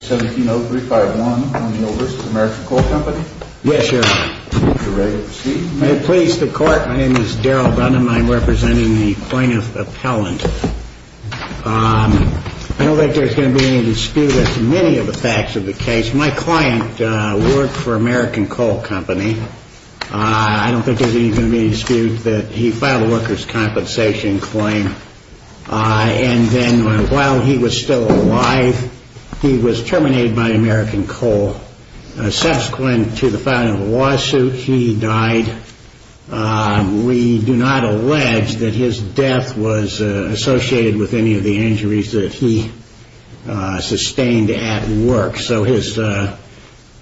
17-0351, O'Neal v. The American Coal Company Yes, Your Honor. Are you ready to proceed? May it please the Court. My name is Daryl Dunham. I am representing the plaintiff appellant. I don't think there's going to be any dispute as to many of the facts of the case. My client worked for American Coal Company. I don't think there's even going to be any dispute that he filed a workers' compensation claim. And then while he was still alive, he was terminated by American Coal. Subsequent to the filing of the lawsuit, he died. We do not allege that his death was associated with any of the injuries that he sustained at work. So his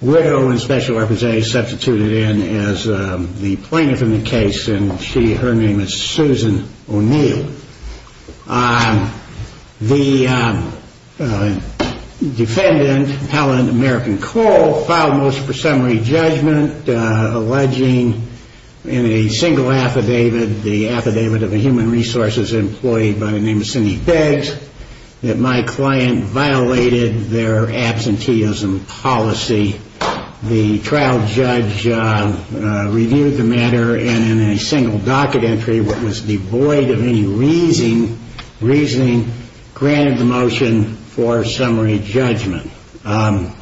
widow and special representative substituted in as the plaintiff in the case, and her name is Susan O'Neal. The defendant, Appellant American Coal, filed most presumptory judgment alleging in a single affidavit, the affidavit of a human resources employee by the name of Cindy Beggs, that my client violated their absenteeism policy. The trial judge reviewed the matter, and in a single docket entry, what was devoid of any reasoning, granted the motion for summary judgment. And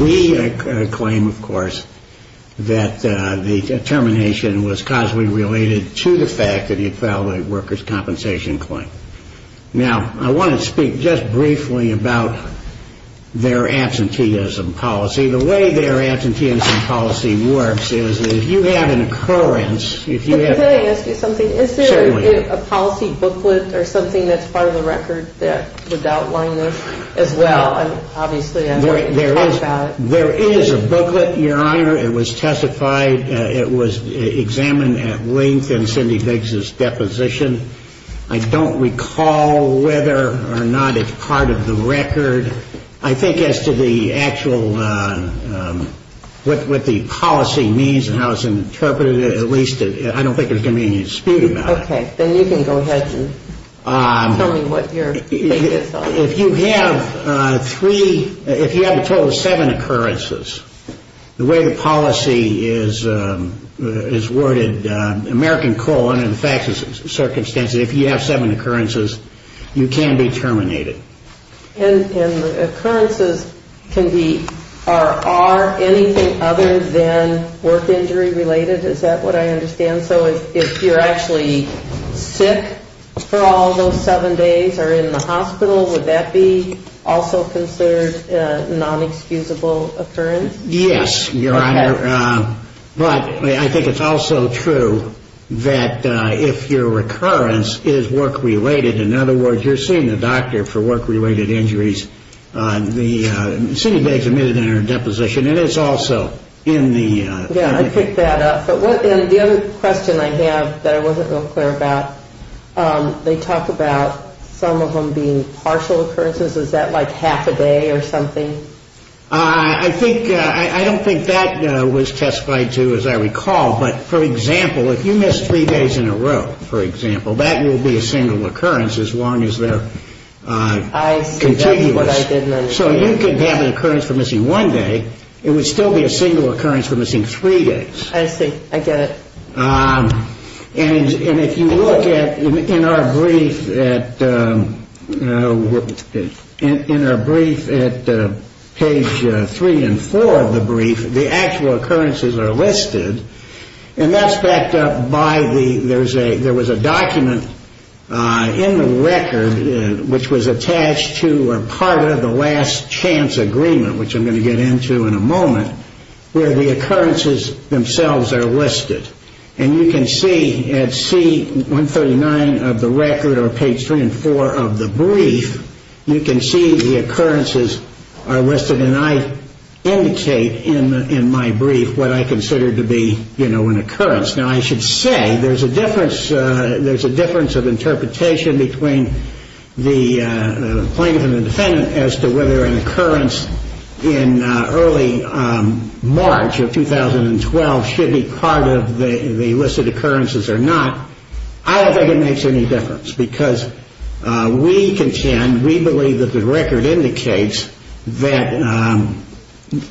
we claim, of course, that the termination was causally related to the fact that he filed a workers' compensation claim. Now, I want to speak just briefly about their absenteeism policy. The way their absenteeism policy works is that if you have an occurrence, if you have... Well, obviously, I'm going to talk about it. There is a booklet, Your Honor. It was testified. It was examined at length in Cindy Beggs' deposition. I don't recall whether or not it's part of the record. I think as to the actual, what the policy means and how it's interpreted, at least, I don't think there's going to be any dispute about it. Okay. Then you can go ahead and tell me what your take is on it. Well, if you have three, if you have a total of seven occurrences, the way the policy is worded, American colon, in the facts and circumstances, if you have seven occurrences, you can be terminated. And the occurrences can be or are anything other than work injury related? Is that what I understand? So if you're actually sick for all those seven days or in the hospital, would that be also considered a non-excusable occurrence? Yes, Your Honor. But I think it's also true that if your recurrence is work related, in other words, you're seeing a doctor for work related injuries. Cindy Beggs admitted it in her deposition. It is also in the... Yeah, I picked that up. And the other question I have that I wasn't real clear about, they talk about some of them being partial occurrences. Is that like half a day or something? I don't think that was testified to, as I recall. But, for example, if you miss three days in a row, for example, that will be a single occurrence as long as they're contiguous. I see. That's what I didn't understand. So you could have an occurrence for missing one day. It would still be a single occurrence for missing three days. I see. I get it. And if you look in our brief at page three and four of the brief, the actual occurrences are listed, and that's backed up by there was a document in the record which was attached to or part of the last chance agreement, which I'm going to get into in a moment, where the occurrences themselves are listed. And you can see at C139 of the record or page three and four of the brief, you can see the occurrences are listed, and I indicate in my brief what I consider to be an occurrence. Now, I should say there's a difference of interpretation between the plaintiff and the defendant as to whether an occurrence in early March of 2012 should be part of the listed occurrences or not. I don't think it makes any difference because we contend, we believe that the record indicates that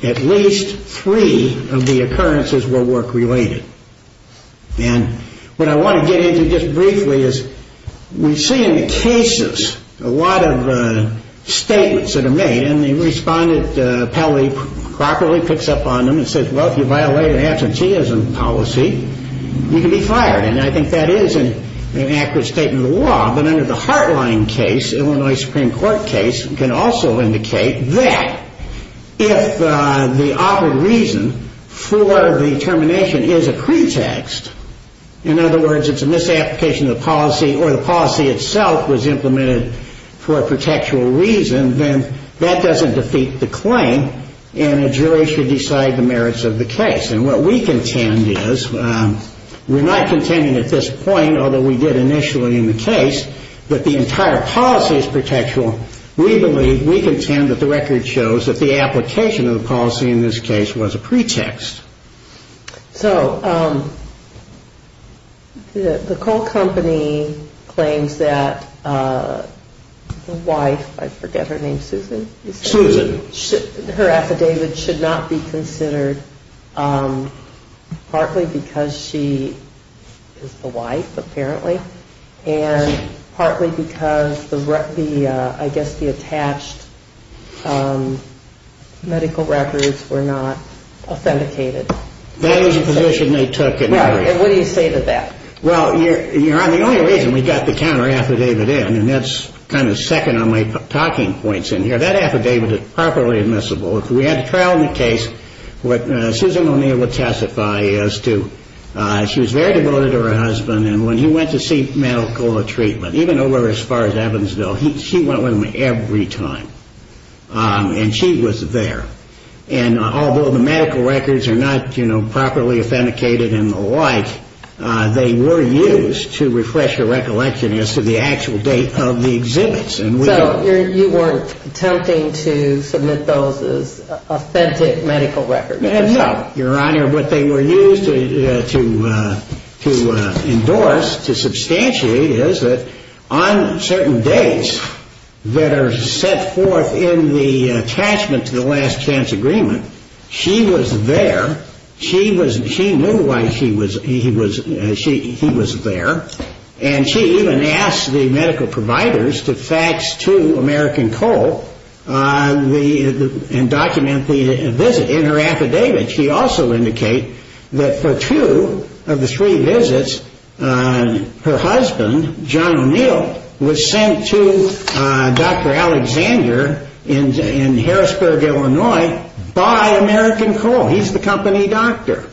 at least three of the occurrences were work-related. And what I want to get into just briefly is we see in the cases a lot of statements that are made, and the respondent probably properly picks up on them and says, well, if you violate an absenteeism policy, you can be fired. And I think that is an accurate statement of the law. But under the Heartline case, Illinois Supreme Court case, can also indicate that if the operative reason for the termination is a pretext, in other words, it's a misapplication of the policy or the policy itself was implemented for a protectual reason, then that doesn't defeat the claim, and a jury should decide the merits of the case. And what we contend is we're not contending at this point, although we did initially in the case, that the entire policy is protectual, we believe, we contend that the record shows that the application of the policy in this case was a pretext. So the coal company claims that the wife, I forget her name, Susan. Susan. Her affidavit should not be considered, partly because she is the wife, apparently. And partly because the, I guess, the attached medical records were not authenticated. That was a position they took. And what do you say to that? Well, you're on the only reason we got the counter affidavit in, and that's kind of second on my talking points in here. That affidavit is properly admissible. If we had a trial in the case, what Susan O'Neill would testify is to, she was very devoted to her husband, and when he went to see medical treatment, even over as far as Evansville, she went with him every time. And she was there. And although the medical records are not, you know, properly authenticated and the like, they were used to refresh her recollection as to the actual date of the exhibits. So you weren't attempting to submit those as authentic medical records? No, Your Honor. What they were used to endorse, to substantiate, is that on certain dates that are set forth in the attachment to the last chance agreement, she was there, she knew why he was there, and she even asked the medical providers to fax to American Coal and document the visit in her affidavit. She also indicated that for two of the three visits, her husband, John O'Neill, was sent to Dr. Alexander in Harrisburg, Illinois, by American Coal. He's the company doctor.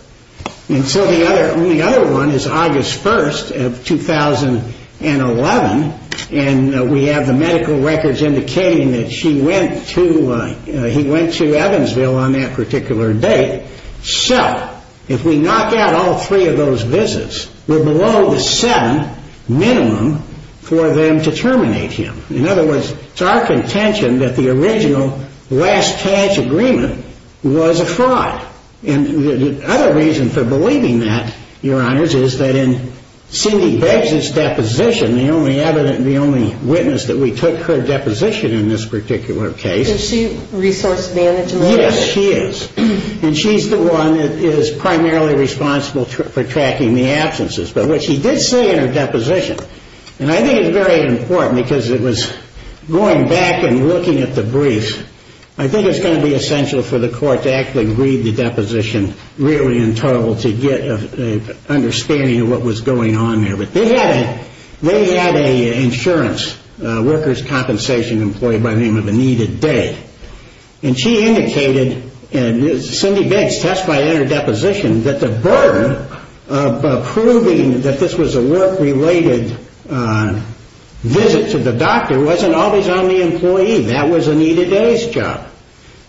And so the only other one is August 1st of 2011, and we have the medical records indicating that he went to Evansville on that particular date. So if we knock out all three of those visits, we're below the seven minimum for them to terminate him. In other words, it's our contention that the original last chance agreement was a fraud. The other reason for believing that, Your Honors, is that in Cindy Begg's deposition, the only witness that we took her deposition in this particular case. Is she resource management? Yes, she is. And she's the one that is primarily responsible for tracking the absences. But what she did say in her deposition, and I think it's very important because it was going back and looking at the brief, I think it's going to be essential for the court to actually read the deposition really in total to get an understanding of what was going on there. But they had an insurance workers' compensation employee by the name of Anita Day. And she indicated, and Cindy Begg testified in her deposition, that the burden of proving that this was a work-related visit to the doctor wasn't always on the employee. That was Anita Day's job.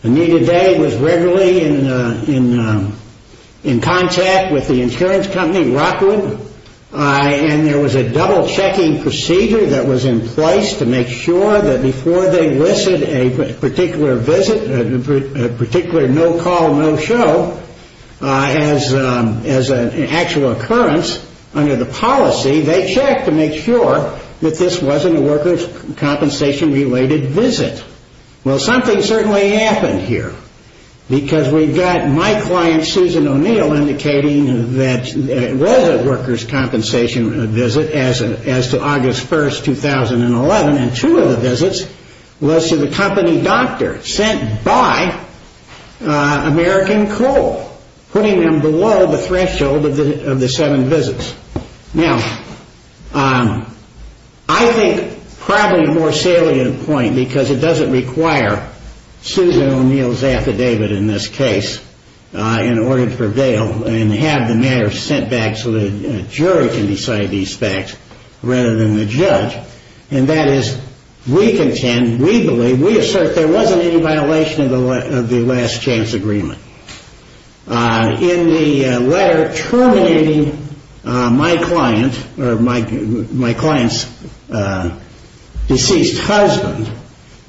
Anita Day was regularly in contact with the insurance company, Rockwood, and there was a double-checking procedure that was in place to make sure that before they listed a particular visit, a particular no-call, no-show as an actual occurrence under the policy, they checked to make sure that this wasn't a workers' compensation-related visit. Well, something certainly happened here. Because we've got my client, Susan O'Neill, indicating that it was a workers' compensation visit as to August 1, 2011, and two of the visits was to the company doctor sent by American Coal, putting them below the threshold of the seven visits. Now, I think probably a more salient point, because it doesn't require Susan O'Neill's affidavit in this case in order to prevail and have the matter sent back so the jury can decide these facts rather than the judge, and that is we contend, we believe, we assert there wasn't any violation of the last-chance agreement. In the letter terminating my client's deceased husband,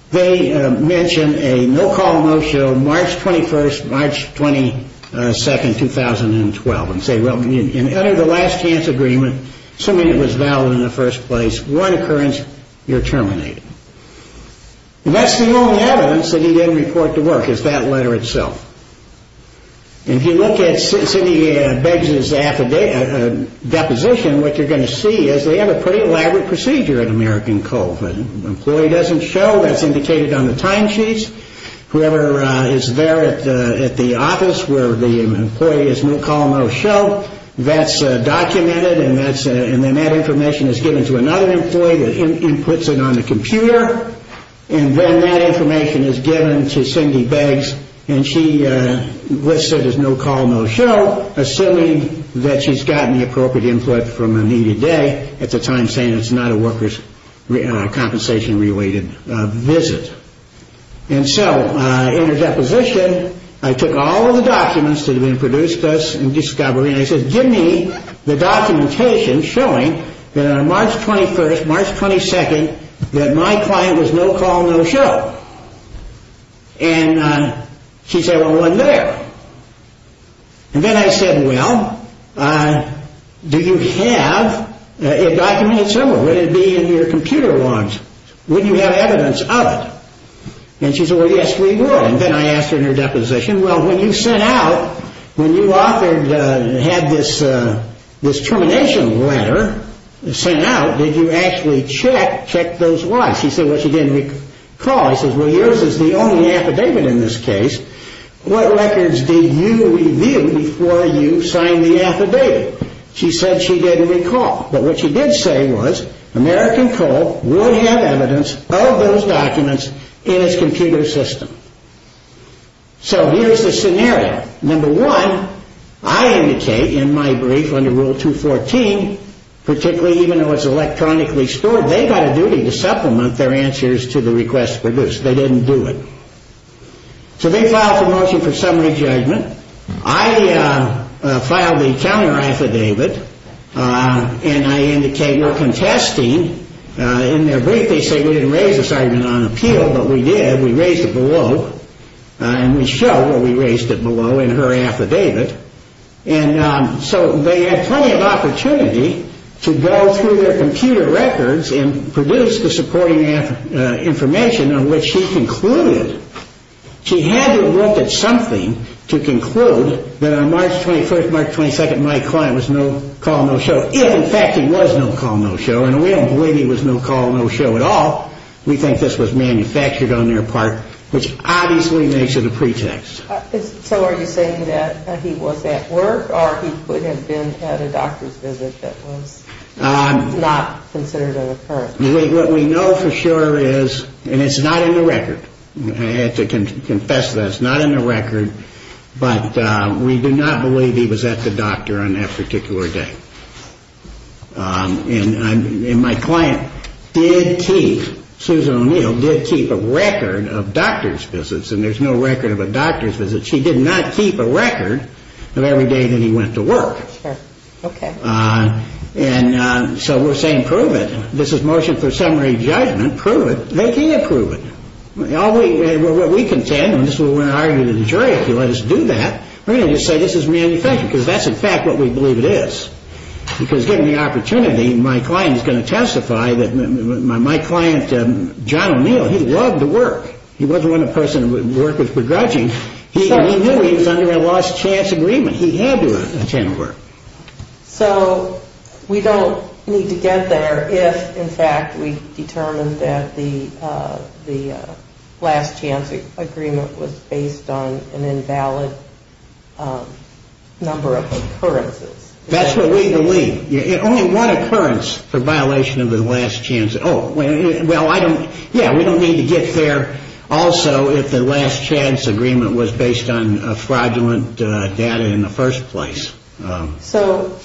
they mention a no-call, no-show March 21st, March 22nd, 2012, and say, well, under the last-chance agreement, assuming it was valid in the first place, one occurrence, you're terminated. That's the only evidence that he didn't report to work is that letter itself. And if you look at Sidney Begg's deposition, what you're going to see is they have a pretty elaborate procedure at American Coal. An employee doesn't show, that's indicated on the timesheets. Whoever is there at the office where the employee is no-call, no-show, that's documented, and then that information is given to another employee that inputs it on the computer, and then that information is given to Sidney Beggs, and she lists it as no-call, no-show, assuming that she's gotten the appropriate input from a needed day at the time, saying it's not a workers' compensation-related visit. And so in her deposition, I took all of the documents that have been produced thus in discovery, and I said, give me the documentation showing that on March 21st, March 22nd, that my client was no-call, no-show. And she said, well, it wasn't there. And then I said, well, do you have it documented somewhere? Would it be in your computer logs? Wouldn't you have evidence of it? And she said, well, yes, we would. And then I asked her in her deposition, well, when you sent out, when you had this termination letter sent out, did you actually check those lies? She said she didn't recall. I said, well, yours is the only affidavit in this case. What records did you review before you signed the affidavit? She said she didn't recall. But what she did say was American Coal would have evidence of those documents in its computer system. So here's the scenario. Number one, I indicate in my brief under Rule 214, particularly even though it's electronically stored, they've got a duty to supplement their answers to the requests produced. They didn't do it. So they filed for motion for summary judgment. I filed the counter-affidavit, and I indicate we're contesting. In their brief they say we didn't raise this argument on appeal, but we did. We raised it below, and we show where we raised it below in her affidavit. And so they had plenty of opportunity to go through their computer records and produce the supporting information on which she concluded. She had to have looked at something to conclude that on March 21st, March 22nd, my client was no call, no show, if in fact he was no call, no show. And we don't believe he was no call, no show at all. We think this was manufactured on their part, which obviously makes it a pretext. So are you saying that he was at work, or he could have been at a doctor's visit that was not considered an occurrence? What we know for sure is, and it's not in the record, I have to confess to that, it's not in the record, but we do not believe he was at the doctor on that particular day. And my client did keep, Susan O'Neill did keep a record of doctor's visits, and there's no record of a doctor's visit. She did not keep a record of every day that he went to work. And so we're saying prove it. This is motion for summary judgment. Prove it. They can't prove it. What we contend, and this is what we're going to argue to the jury if you let us do that, we're going to just say this is manufactured, because that's in fact what we believe it is. Because given the opportunity, my client is going to testify that my client, John O'Neill, he loved to work. He wasn't one of those people who would work with begrudging. He knew he was under a lost chance agreement. He had to attend work. So we don't need to get there if, in fact, we determine that the last chance agreement was based on an invalid number of occurrences. That's what we believe. Only one occurrence for violation of the last chance. Oh, well, yeah, we don't need to get there also if the last chance agreement was based on fraudulent data in the first place. So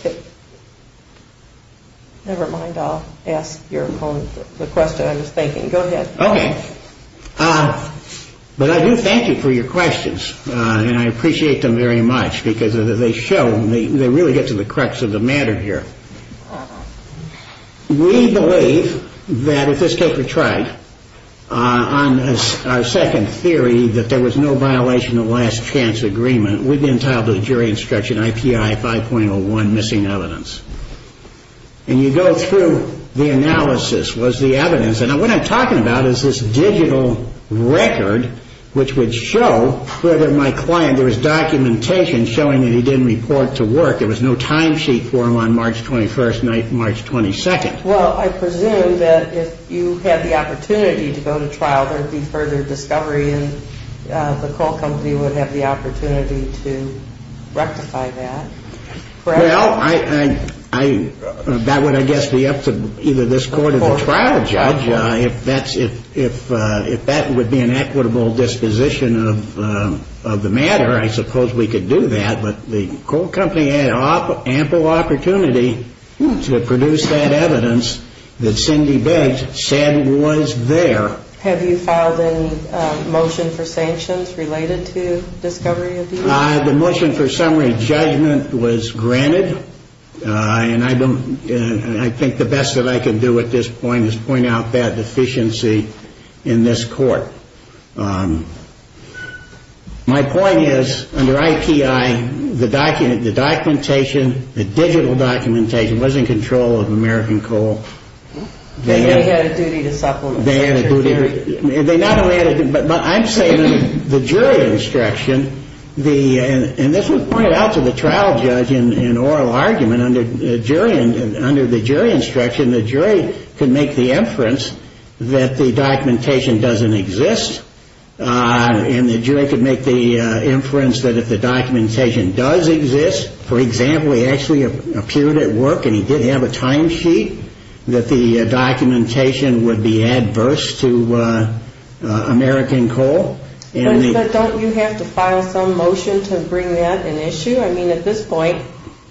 never mind, I'll ask the question I was thinking. Go ahead. Okay. But I do thank you for your questions, and I appreciate them very much because they show, they really get to the crux of the matter here. We believe that if this case were tried on our second theory that there was no violation of last chance agreement, we'd be entitled to the jury instruction IPI 5.01, missing evidence. And you go through the analysis, was the evidence, and what I'm talking about is this digital record which would show whether my client, there was documentation showing that he didn't report to work. There was no timesheet for him on March 21st, March 22nd. Well, I presume that if you had the opportunity to go to trial, and the coal company would have the opportunity to rectify that, correct? Well, that would, I guess, be up to either this court or the trial judge. If that would be an equitable disposition of the matter, I suppose we could do that. But the coal company had ample opportunity to produce that evidence that Cindy Biggs said was there. Have you filed any motion for sanctions related to discovery of these? The motion for summary judgment was granted, and I think the best that I can do at this point is point out that deficiency in this court. My point is, under IPI, the documentation, the digital documentation, was in control of American Coal. They had a duty to supplement. They not only had a duty, but I'm saying the jury instruction, and this was pointed out to the trial judge in oral argument, under the jury instruction, the jury could make the inference that the documentation doesn't exist, and the jury could make the inference that if the documentation does exist, for example, he actually appeared at work and he did have a timesheet, that the documentation would be adverse to American Coal. But don't you have to file some motion to bring that an issue? I mean, at this point,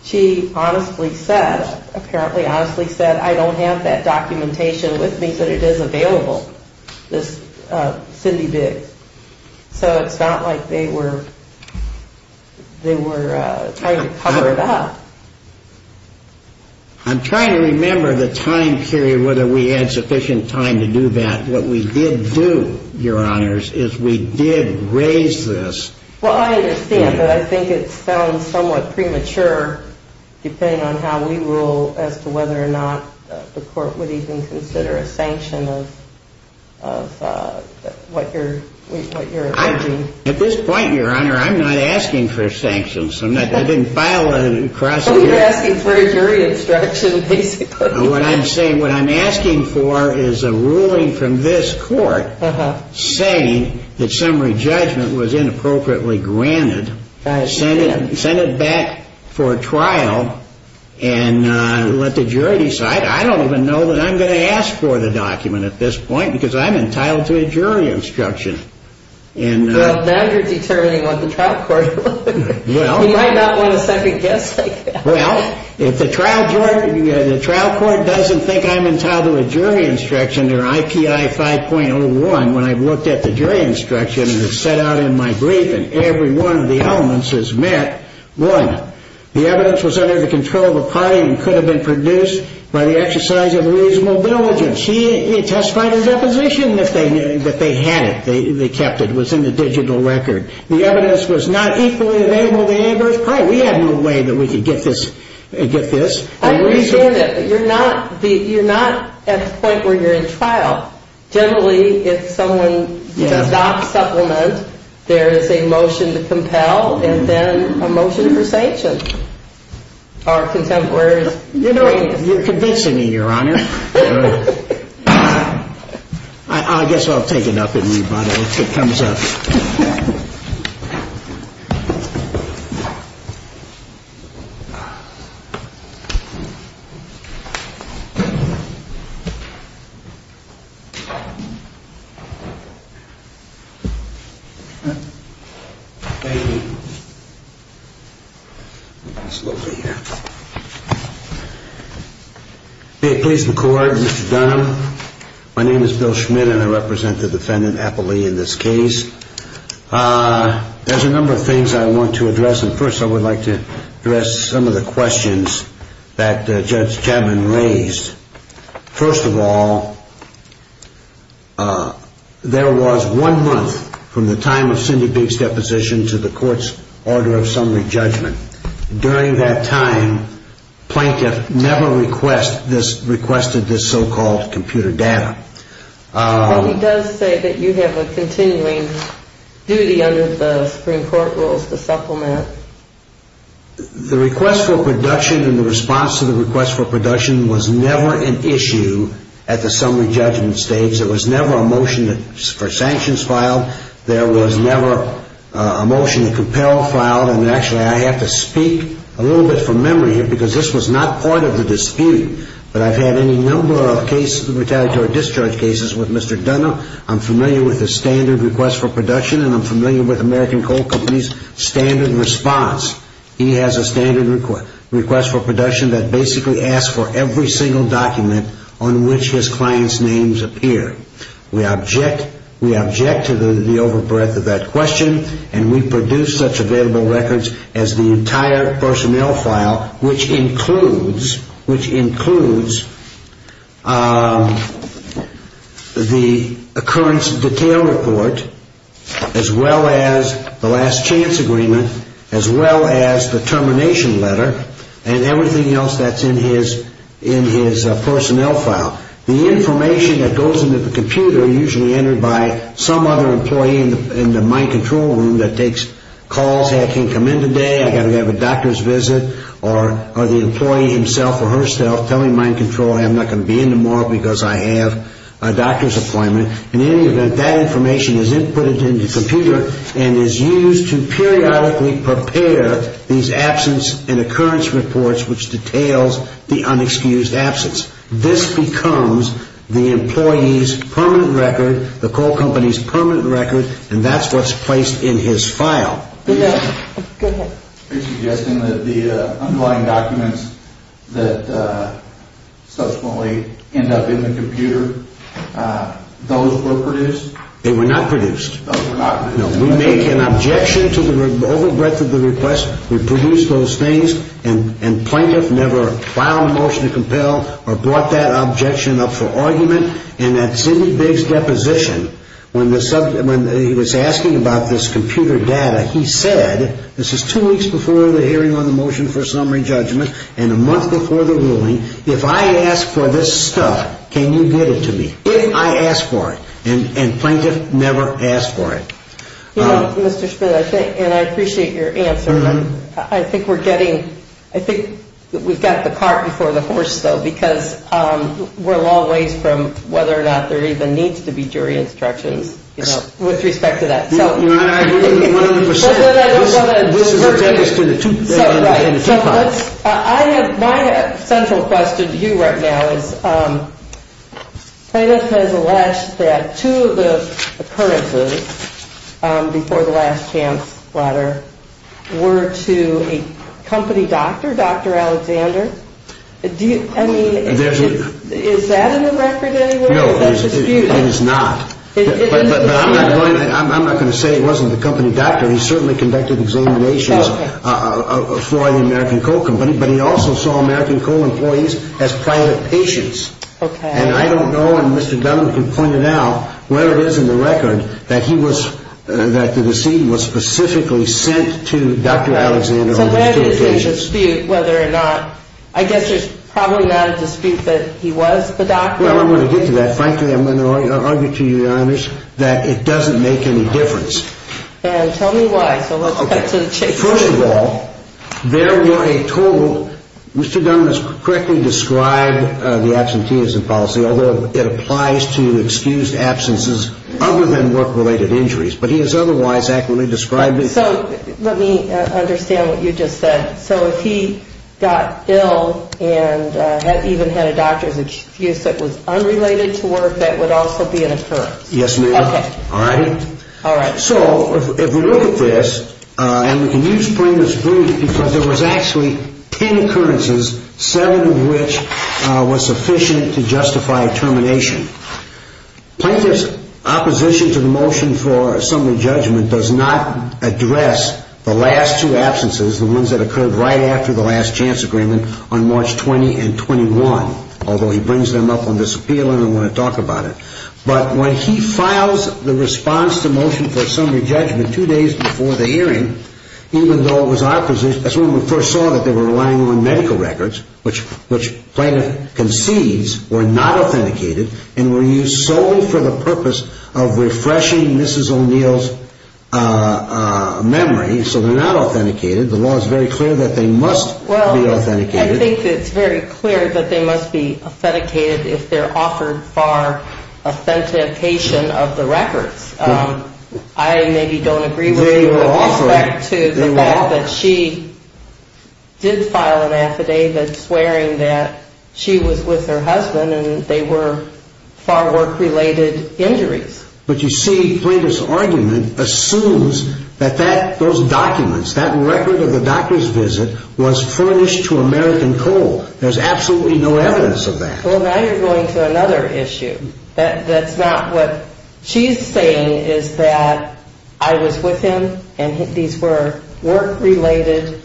she honestly said, apparently honestly said, I don't have that documentation with me, but it is available, this Cindy Biggs. So it's not like they were trying to cover it up. I'm trying to remember the time period, whether we had sufficient time to do that. What we did do, Your Honors, is we did raise this. Well, I understand, but I think it sounds somewhat premature, depending on how we rule as to whether or not the court would even consider a sanction of what you're arranging. At this point, Your Honor, I'm not asking for sanctions. I didn't file a cross-examination. Well, you're asking for a jury instruction, basically. What I'm asking for is a ruling from this court saying that summary judgment was inappropriately granted, send it back for trial, and let the jury decide. I don't even know that I'm going to ask for the document at this point because I'm entitled to a jury instruction. Well, now you're determining what the trial court will do. Well. You might not want a second guess, I guess. Well, if the trial court doesn't think I'm entitled to a jury instruction, or IPI 5.01, when I've looked at the jury instruction and it's set out in my brief and every one of the elements is met, one, the evidence was under the control of the party and could have been produced by the exercise of reasonable diligence. He testified in deposition that they had it. They kept it. It was in the digital record. The evidence was not equally available to the adverse party. We had no way that we could get this. I understand it, but you're not at the point where you're in trial. Generally, if someone does not supplement, there is a motion to compel and then a motion for sanction. Our contemporaries. You know, you're convincing me, Your Honor. I guess I'll take it up with me if it comes up. Thank you. It's lovely here. Please record, Mr. Dunham. My name is Bill Schmidt, and I represent the defendant, Applee, in this case. There's a number of things I want to address, and first I would like to address some of the questions that Judge Chapman raised. First of all, there was one month from the time of Cindy Biggs' deposition to the court's order of summary judgment. During that time, Plaintiff never requested this so-called computer data. But he does say that you have a continuing duty under the Supreme Court rules to supplement. The request for production and the response to the request for production was never an issue at the summary judgment stage. There was never a motion for sanctions filed. There was never a motion to compel filed. And actually, I have to speak a little bit from memory here because this was not part of the dispute. But I've had any number of cases, retaliatory discharge cases, with Mr. Dunham. I'm familiar with the standard request for production, and I'm familiar with American Coal Company's standard response. He has a standard request for production that basically asks for every single document on which his client's names appear. We object to the overbreadth of that question, and we produce such available records as the entire personnel file, which includes the occurrence detail report, as well as the last chance agreement, as well as the termination letter, and everything else that's in his personnel file. The information that goes into the computer, usually entered by some other employee in the mind control room, that takes calls, hey, I can't come in today, I've got to have a doctor's visit, or the employee himself or herself telling mind control, hey, I'm not going to be in tomorrow because I have a doctor's appointment. In any event, that information is inputted into the computer and is used to periodically prepare these absence and occurrence reports, which details the unexcused absence. This becomes the employee's permanent record, the coal company's permanent record, and that's what's placed in his file. Go ahead. Are you suggesting that the underlying documents that subsequently end up in the computer, those were produced? They were not produced. Those were not produced. No, we make an objection to the overbreadth of the request. We produced those things, and plaintiff never filed a motion to compel or brought that objection up for argument. And at Sidney Bigg's deposition, when he was asking about this computer data, he said, this is two weeks before the hearing on the motion for summary judgment and a month before the ruling, if I ask for this stuff, can you get it to me, if I ask for it? And plaintiff never asked for it. You know, Mr. Schmidt, I think, and I appreciate your answer, but I think we're getting, I think we've got the cart before the horse, though, because we're a long ways from whether or not there even needs to be jury instructions, you know, with respect to that. You know, I agree with you 100 percent. This is an objection to the two parts. My central question to you right now is, plaintiff has alleged that two of the occurrences before the last chance letter were to a company doctor, Dr. Alexander. I mean, is that in the record anywhere? No, it is not. But I'm not going to say it wasn't the company doctor. He certainly conducted examinations for the American Coal Company, but he also saw American Coal employees as private patients. And I don't know, and Mr. Dunlap can point it out, whether it is in the record that he was, that the deceit was specifically sent to Dr. Alexander. So there is a dispute whether or not, I guess there's probably not a dispute that he was the doctor. Well, I'm going to get to that. Frankly, I'm going to argue to you, Your Honors, that it doesn't make any difference. And tell me why. So let's cut to the chase. First of all, there were a total, Mr. Dunlap has correctly described the absenteeism policy, although it applies to excused absences other than work-related injuries. But he has otherwise accurately described it. So let me understand what you just said. So if he got ill and even had a doctor's excuse that was unrelated to work, that would also be an occurrence? Yes, ma'am. Okay. All right? All right. So if we look at this, and we can use Plaintiff's brief, because there was actually ten occurrences, seven of which were sufficient to justify termination. Plaintiff's opposition to the motion for assembly judgment does not address the last two absences, the ones that occurred right after the last chance agreement on March 20 and 21, although he brings them up on this appeal and I want to talk about it. But when he files the response to motion for assembly judgment two days before the hearing, even though it was our position, that's when we first saw that they were relying on medical records, which Plaintiff concedes were not authenticated and were used solely for the purpose of refreshing Mrs. O'Neill's memory. So they're not authenticated. The law is very clear that they must be authenticated. I think it's very clear that they must be authenticated if they're offered for authentication of the records. I maybe don't agree with you with respect to the fact that she did file an affidavit swearing that she was with her husband and they were for work-related injuries. But you see, Plaintiff's argument assumes that those documents, that record of the doctor's visit was furnished to American coal. There's absolutely no evidence of that. Well, now you're going to another issue. That's not what she's saying is that I was with him and these were work-related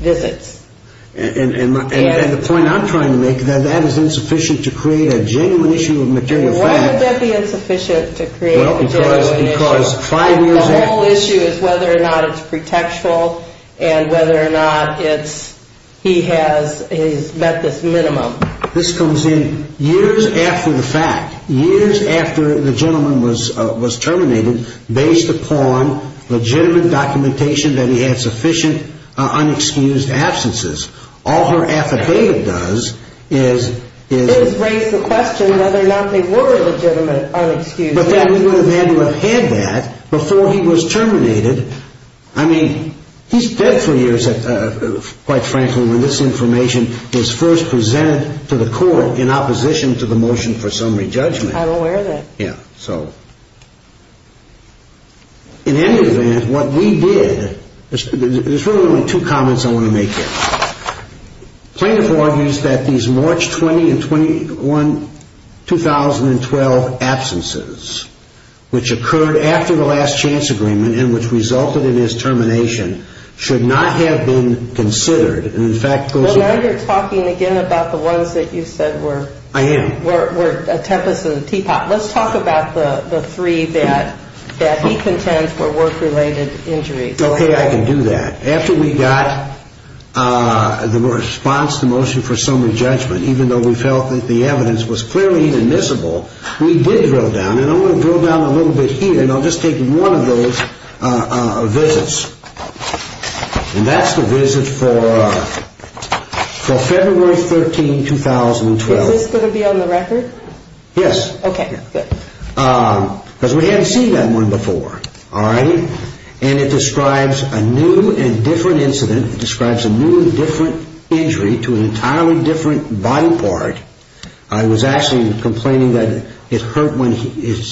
visits. And the point I'm trying to make is that that is insufficient to create a genuine issue of material facts. Why would that be insufficient to create a genuine issue? The whole issue is whether or not it's pretextual and whether or not he has met this minimum. This comes in years after the fact, years after the gentleman was terminated, based upon legitimate documentation that he had sufficient unexcused absences. All her affidavit does is- Is raise the question whether or not they were legitimate unexcused absences. But that he would have had to have had that before he was terminated. I mean, he's dead for years, quite frankly, when this information is first presented to the court in opposition to the motion for summary judgment. I'm aware of that. Yeah, so. In any event, what we did- There's really only two comments I want to make here. Plaintiff argues that these March 20 and 21, 2012 absences, which occurred after the last chance agreement and which resulted in his termination, should not have been considered. And in fact- Well, now you're talking again about the ones that you said were- I am. Were a tempest in a teapot. Let's talk about the three that he contends were work-related injuries. Okay, I can do that. After we got the response to motion for summary judgment, even though we felt that the evidence was clearly inadmissible, we did drill down, and I'm going to drill down a little bit here, and I'll just take one of those visits. And that's the visit for February 13, 2012. Is this going to be on the record? Yes. Because we hadn't seen that one before, all right? And it describes a new and different incident. It describes a new and different injury to an entirely different body part. He was actually complaining that his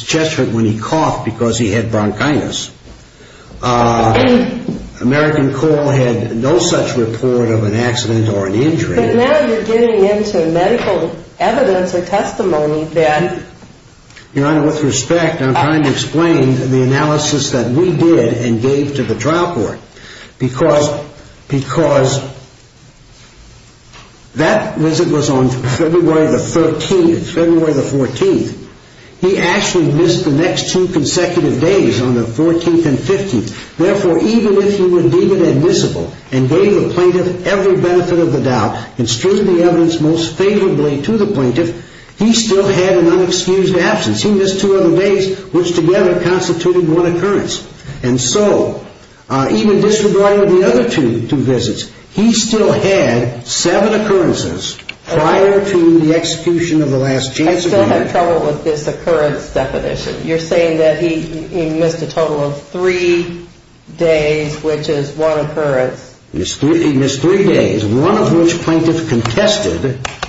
chest hurt when he coughed because he had bronchitis. American Call had no such report of an accident or an injury. But now you're getting into medical evidence or testimony that- Because that visit was on February the 13th, February the 14th. He actually missed the next two consecutive days on the 14th and 15th. Therefore, even if he would deem it admissible and gave the plaintiff every benefit of the doubt and streamed the evidence most favorably to the plaintiff, he still had an unexcused absence. He missed two other days, which together constituted one occurrence. And so even disregarding the other two visits, he still had seven occurrences prior to the execution of the last chance agreement. I still have trouble with this occurrence definition. You're saying that he missed a total of three days, which is one occurrence. He missed three days, one of which plaintiff contested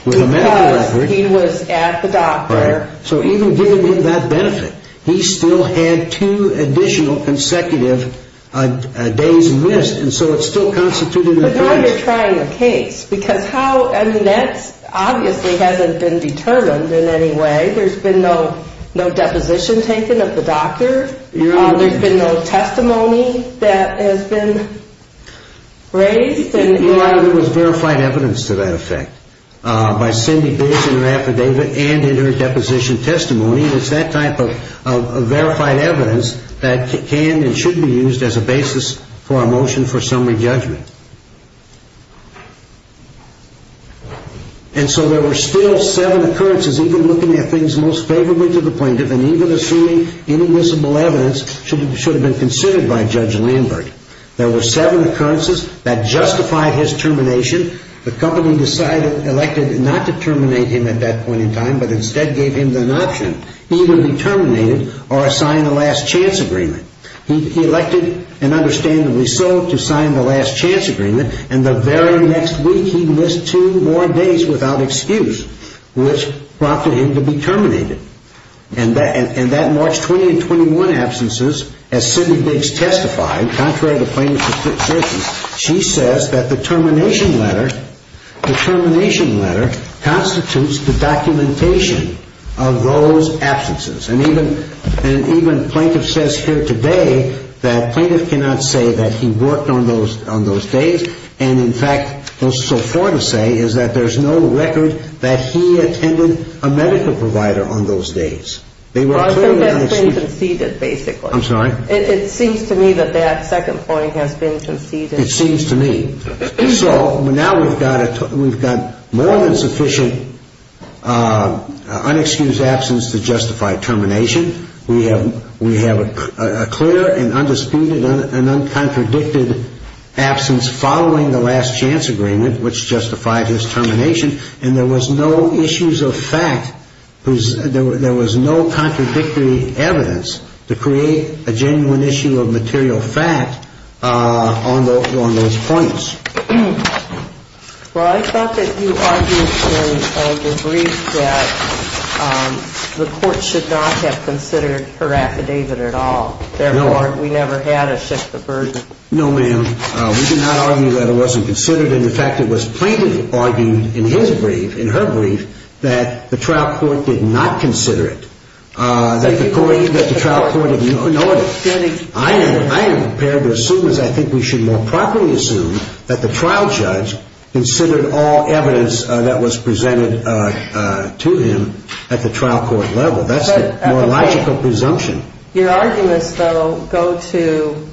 with a medical record. Because he was at the doctor. So even giving him that benefit, he still had two additional consecutive days missed. And so it still constituted an occurrence. But now you're trying a case. Because how- I mean, that obviously hasn't been determined in any way. There's been no deposition taken at the doctor. There's been no testimony that has been raised. And a lot of it was verified evidence to that effect by Cindy Biggs in her affidavit and in her deposition testimony. It's that type of verified evidence that can and should be used as a basis for a motion for summary judgment. And so there were still seven occurrences, even looking at things most favorably to the plaintiff and even assuming inadmissible evidence should have been considered by Judge Lambert. There were seven occurrences that justified his termination. The company decided, elected not to terminate him at that point in time, but instead gave him an option. Either be terminated or sign a last chance agreement. He elected, and understandably so, to sign the last chance agreement. And the very next week he missed two more days without excuse, which prompted him to be terminated. And that March 20 and 21 absences, as Cindy Biggs testified, contrary to plaintiff's assertions, she says that the termination letter constitutes the documentation of those absences. And even plaintiff says here today that plaintiff cannot say that he worked on those days. And in fact, so far to say is that there's no record that he attended a medical provider on those days. They were clearly unexcused. I think that's been conceded, basically. I'm sorry? It seems to me that that second point has been conceded. It seems to me. So now we've got more than sufficient unexcused absence to justify termination. We have a clear and undisputed and uncontradicted absence following the last chance agreement, which justified his termination. And there was no issues of fact. There was no contradictory evidence to create a genuine issue of material fact on those points. Well, I thought that you argued in the brief that the court should not have considered her affidavit at all. Therefore, we never had a shift of burden. No, ma'am. We did not argue that it wasn't considered. In fact, it was plaintiff argued in his brief, in her brief, that the trial court did not consider it, that the trial court ignored it. I am prepared to assume, as I think we should more properly assume, that the trial judge considered all evidence that was presented to him at the trial court level. That's the more logical presumption. Your arguments, though, go to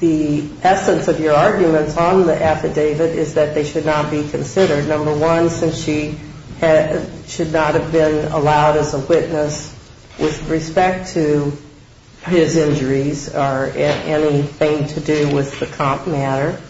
the essence of your arguments on the affidavit is that they should not be considered. Number one, since she should not have been allowed as a witness with respect to his injuries or anything to do with the comp matter.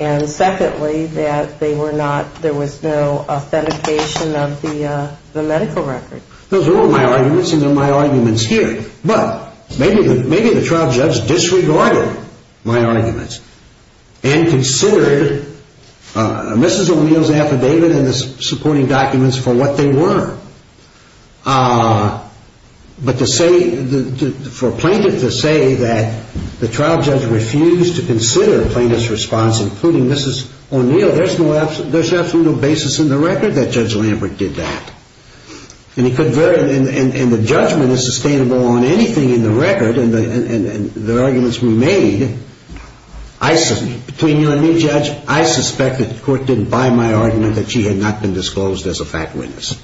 And secondly, that there was no authentication of the medical record. Those are all my arguments, and they're my arguments here. But maybe the trial judge disregarded my arguments and considered Mrs. O'Neill's affidavit and the supporting documents for what they were. But for a plaintiff to say that the trial judge refused to consider a plaintiff's response, including Mrs. O'Neill, there's absolutely no basis in the record that Judge Lambert did that. And the judgment is sustainable on anything in the record, and the arguments we made, between you and me, Judge, I suspect that the court didn't buy my argument that she had not been disclosed as a fact witness.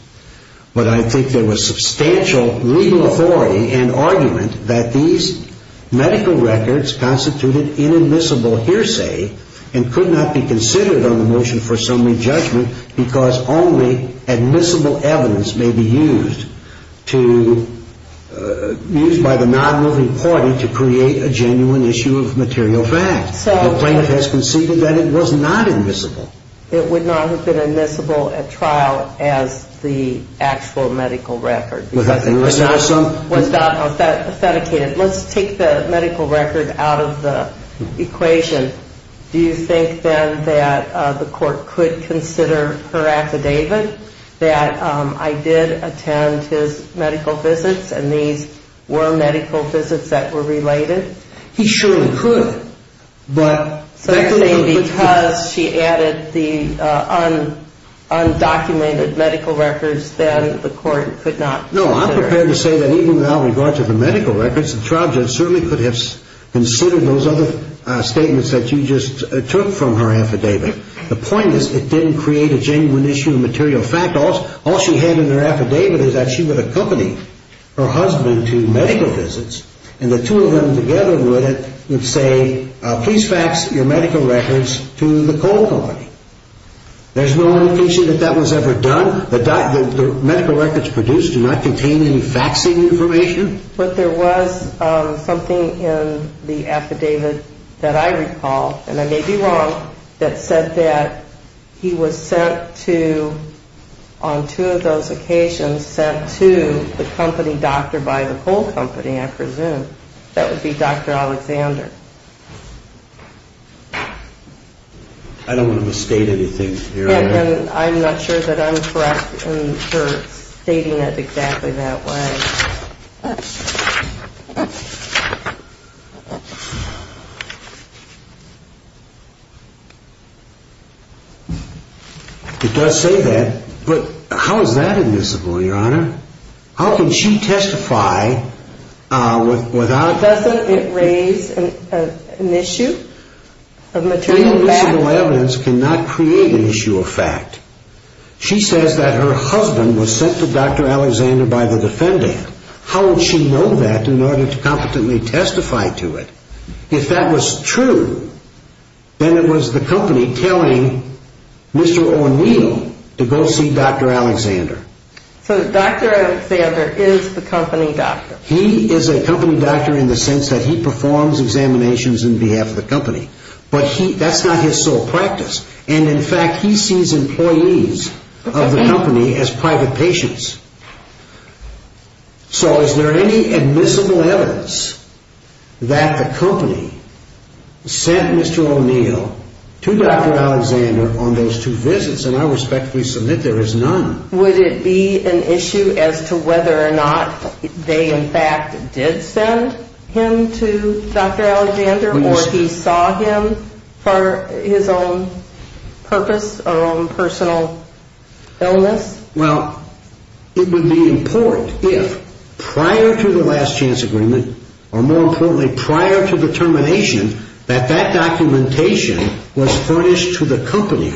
But I think there was substantial legal authority and argument that these medical records constituted inadmissible hearsay and could not be considered on the motion for assembly judgment because only admissible evidence may be used to, used by the non-moving party to create a genuine issue of material fact. The plaintiff has conceded that it was not admissible. It would not have been admissible at trial as the actual medical record. It was not authenticated. Let's take the medical record out of the equation. Do you think then that the court could consider her affidavit, that I did attend his medical visits, and these were medical visits that were related? He surely could. Secondly, because she added the undocumented medical records, then the court could not consider it. No, I'm prepared to say that even without regard to the medical records, the trial judge certainly could have considered those other statements that you just took from her affidavit. The point is it didn't create a genuine issue of material fact. All she had in her affidavit is that she would accompany her husband to medical visits, and the two of them together would say, please fax your medical records to the coal company. There's no indication that that was ever done. The medical records produced do not contain any faxing information. But there was something in the affidavit that I recall, and I may be wrong, that said that he was sent to, on two of those occasions, that he was sent to the company doctor by the coal company, I presume. That would be Dr. Alexander. I don't want to misstate anything here. I'm not sure that I'm correct in stating it exactly that way. It does say that. But how is that admissible, Your Honor? How can she testify without... Doesn't it raise an issue of material fact? Any admissible evidence cannot create an issue of fact. She says that her husband was sent to Dr. Alexander by the defendant. How would she know that in order to competently testify to it? If that was true, then it was the company telling Mr. O'Neill to go see Dr. Alexander. So Dr. Alexander is the company doctor. He is a company doctor in the sense that he performs examinations on behalf of the company. But that's not his sole practice. And, in fact, he sees employees of the company as private patients. So is there any admissible evidence that the company sent Mr. O'Neill to Dr. Alexander on those two visits? And I respectfully submit there is none. Would it be an issue as to whether or not they, in fact, did send him to Dr. Alexander or he saw him for his own purpose or own personal illness? Well, it would be important if prior to the last chance agreement or, more importantly, prior to the termination, that that documentation was furnished to the company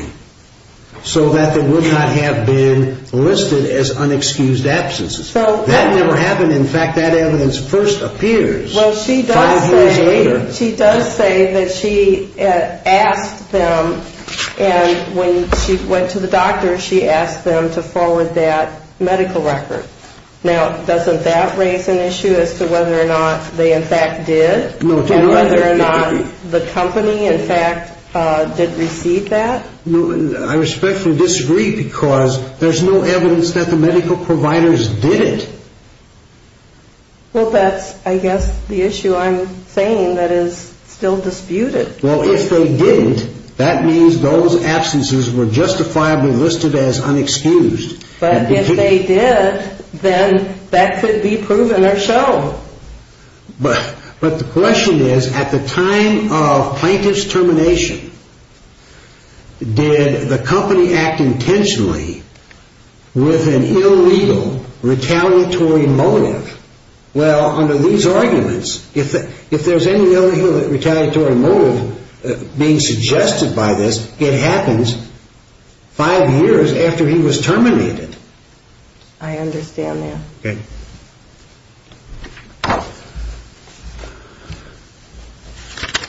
so that they would not have been listed as unexcused absences. That never happened. In fact, that evidence first appears five years later. Well, she does say that she asked them, and when she went to the doctor, she asked them to forward that medical record. Now, doesn't that raise an issue as to whether or not they, in fact, did? And whether or not the company, in fact, did receive that? I respectfully disagree because there's no evidence that the medical providers did it. Well, that's, I guess, the issue I'm saying that is still disputed. Well, if they didn't, that means those absences were justifiably listed as unexcused. But if they did, then that could be proven or shown. But the question is, at the time of plaintiff's termination, did the company act intentionally with an illegal retaliatory motive? Well, under these arguments, if there's any illegal retaliatory motive being suggested by this, it happens five years after he was terminated. I understand that. Okay.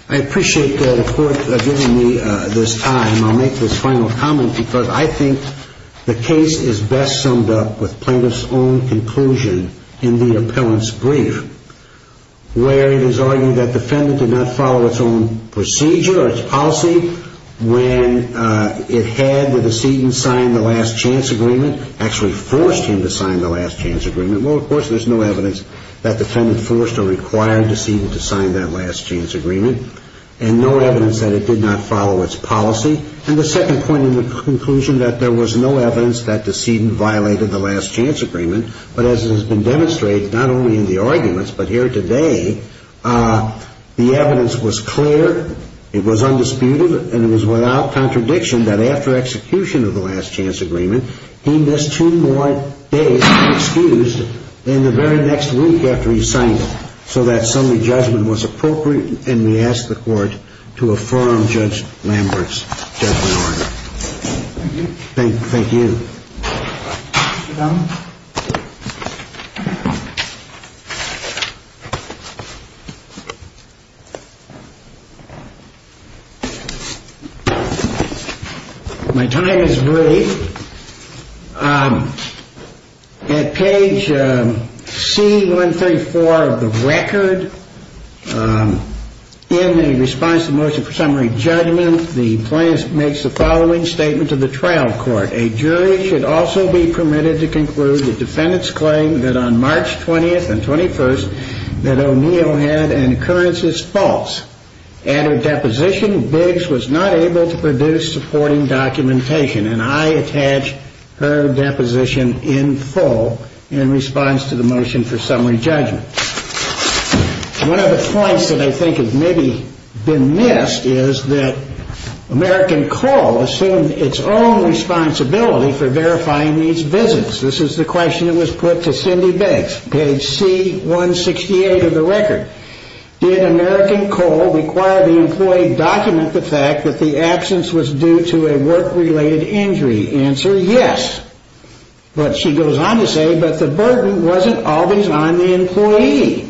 I appreciate the Court giving me this time. I'll make this final comment because I think the case is best summed up with plaintiff's own conclusion in the appellant's brief, where it is argued that defendant did not follow its own procedure or its policy when it had the decedent sign the last chance agreement, actually forced him to sign the last chance agreement. Well, of course, there's no evidence that defendant forced or required decedent to sign that last chance agreement and no evidence that it did not follow its policy. And the second point in the conclusion that there was no evidence that decedent violated the last chance agreement, but as has been demonstrated not only in the arguments but here today, the evidence was clear, it was undisputed, and it was without contradiction that after execution of the last chance agreement, he missed two more days to be excused in the very next week after he signed it. So that summary judgment was appropriate, and we ask the Court to affirm Judge Lambert's judgment order. Thank you. Thank you. My time is brief. At page C134 of the record, in the response to the motion for summary judgment, the plaintiff makes the following statement to the trial court. A jury should also be permitted to conclude the defendant's claim that on March 20th and 21st that O'Neill had an occurrence as false. At her deposition, Biggs was not able to produce supporting documentation, and I attach her deposition in full in response to the motion for summary judgment. One of the points that I think has maybe been missed is that American Coal assumed its own responsibility for verifying these visits. This is the question that was put to Cindy Biggs, page C168 of the record. Did American Coal require the employee to document the fact that the absence was due to a work-related injury? The answer, yes. But she goes on to say, but the burden wasn't always on the employee.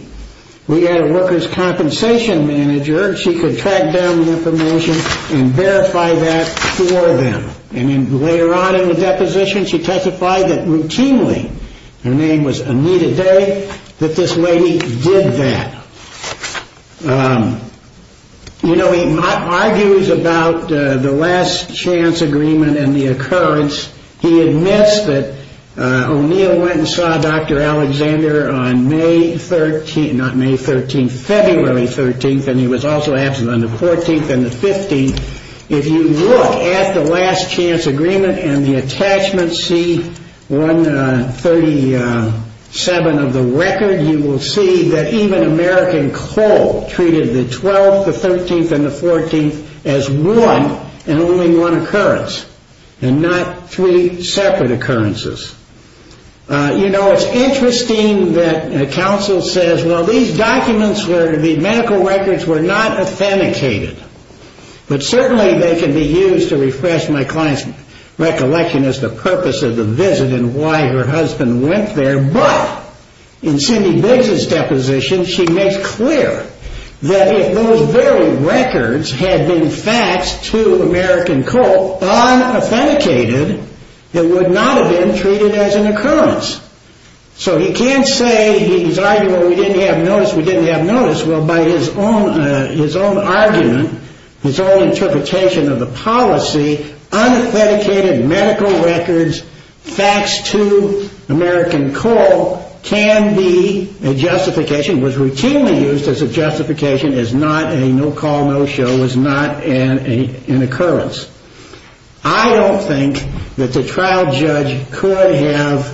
We had a workers' compensation manager, and she could track down the information and verify that for them. And then later on in the deposition, she testified that routinely, her name was Anita Day, that this lady did that. You know, he argues about the last chance agreement and the occurrence. He admits that O'Neill went and saw Dr. Alexander on May 13th, not May 13th, February 13th, and he was also absent on the 14th and the 15th. If you look at the last chance agreement and the attachment C-137 of the record, you will see that even American Coal treated the 12th, the 13th, and the 14th as one and only one occurrence and not three separate occurrences. You know, it's interesting that counsel says, well, these documents were, the medical records were not authenticated. But certainly they can be used to refresh my client's recollection as the purpose of the visit and why her husband went there. But in Cindy Biggs' deposition, she makes clear that if those very records had been faxed to American Coal unauthenticated, it would not have been treated as an occurrence. So he can't say, he's arguing, well, we didn't have notice, we didn't have notice. Well, by his own argument, his own interpretation of the policy, unauthenticated medical records faxed to American Coal can be a justification, was routinely used as a justification as not a no-call, no-show, was not an occurrence. I don't think that the trial judge could have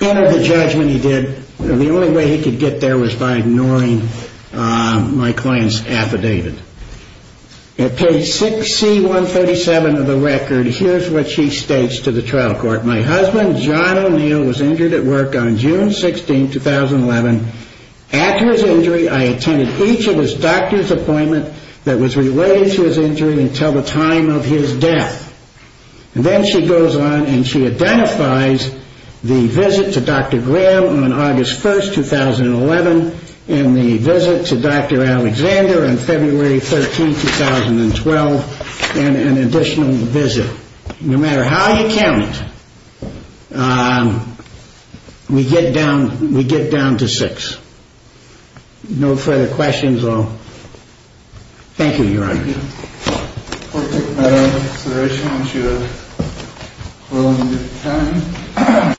entered the judgment he did. The only way he could get there was by ignoring my client's affidavit. At page 6C137 of the record, here's what she states to the trial court. My husband, John O'Neill, was injured at work on June 16, 2011. After his injury, I attended each of his doctor's appointments that was related to his injury until the time of his death. And then she goes on and she identifies the visit to Dr. Graham on August 1, 2011, and the visit to Dr. Alexander on February 13, 2012, and an additional visit. No matter how you count, we get down to six. No further questions. Thank you, Your Honor. Thank you. Court take matter into consideration. I want you to roll on your time.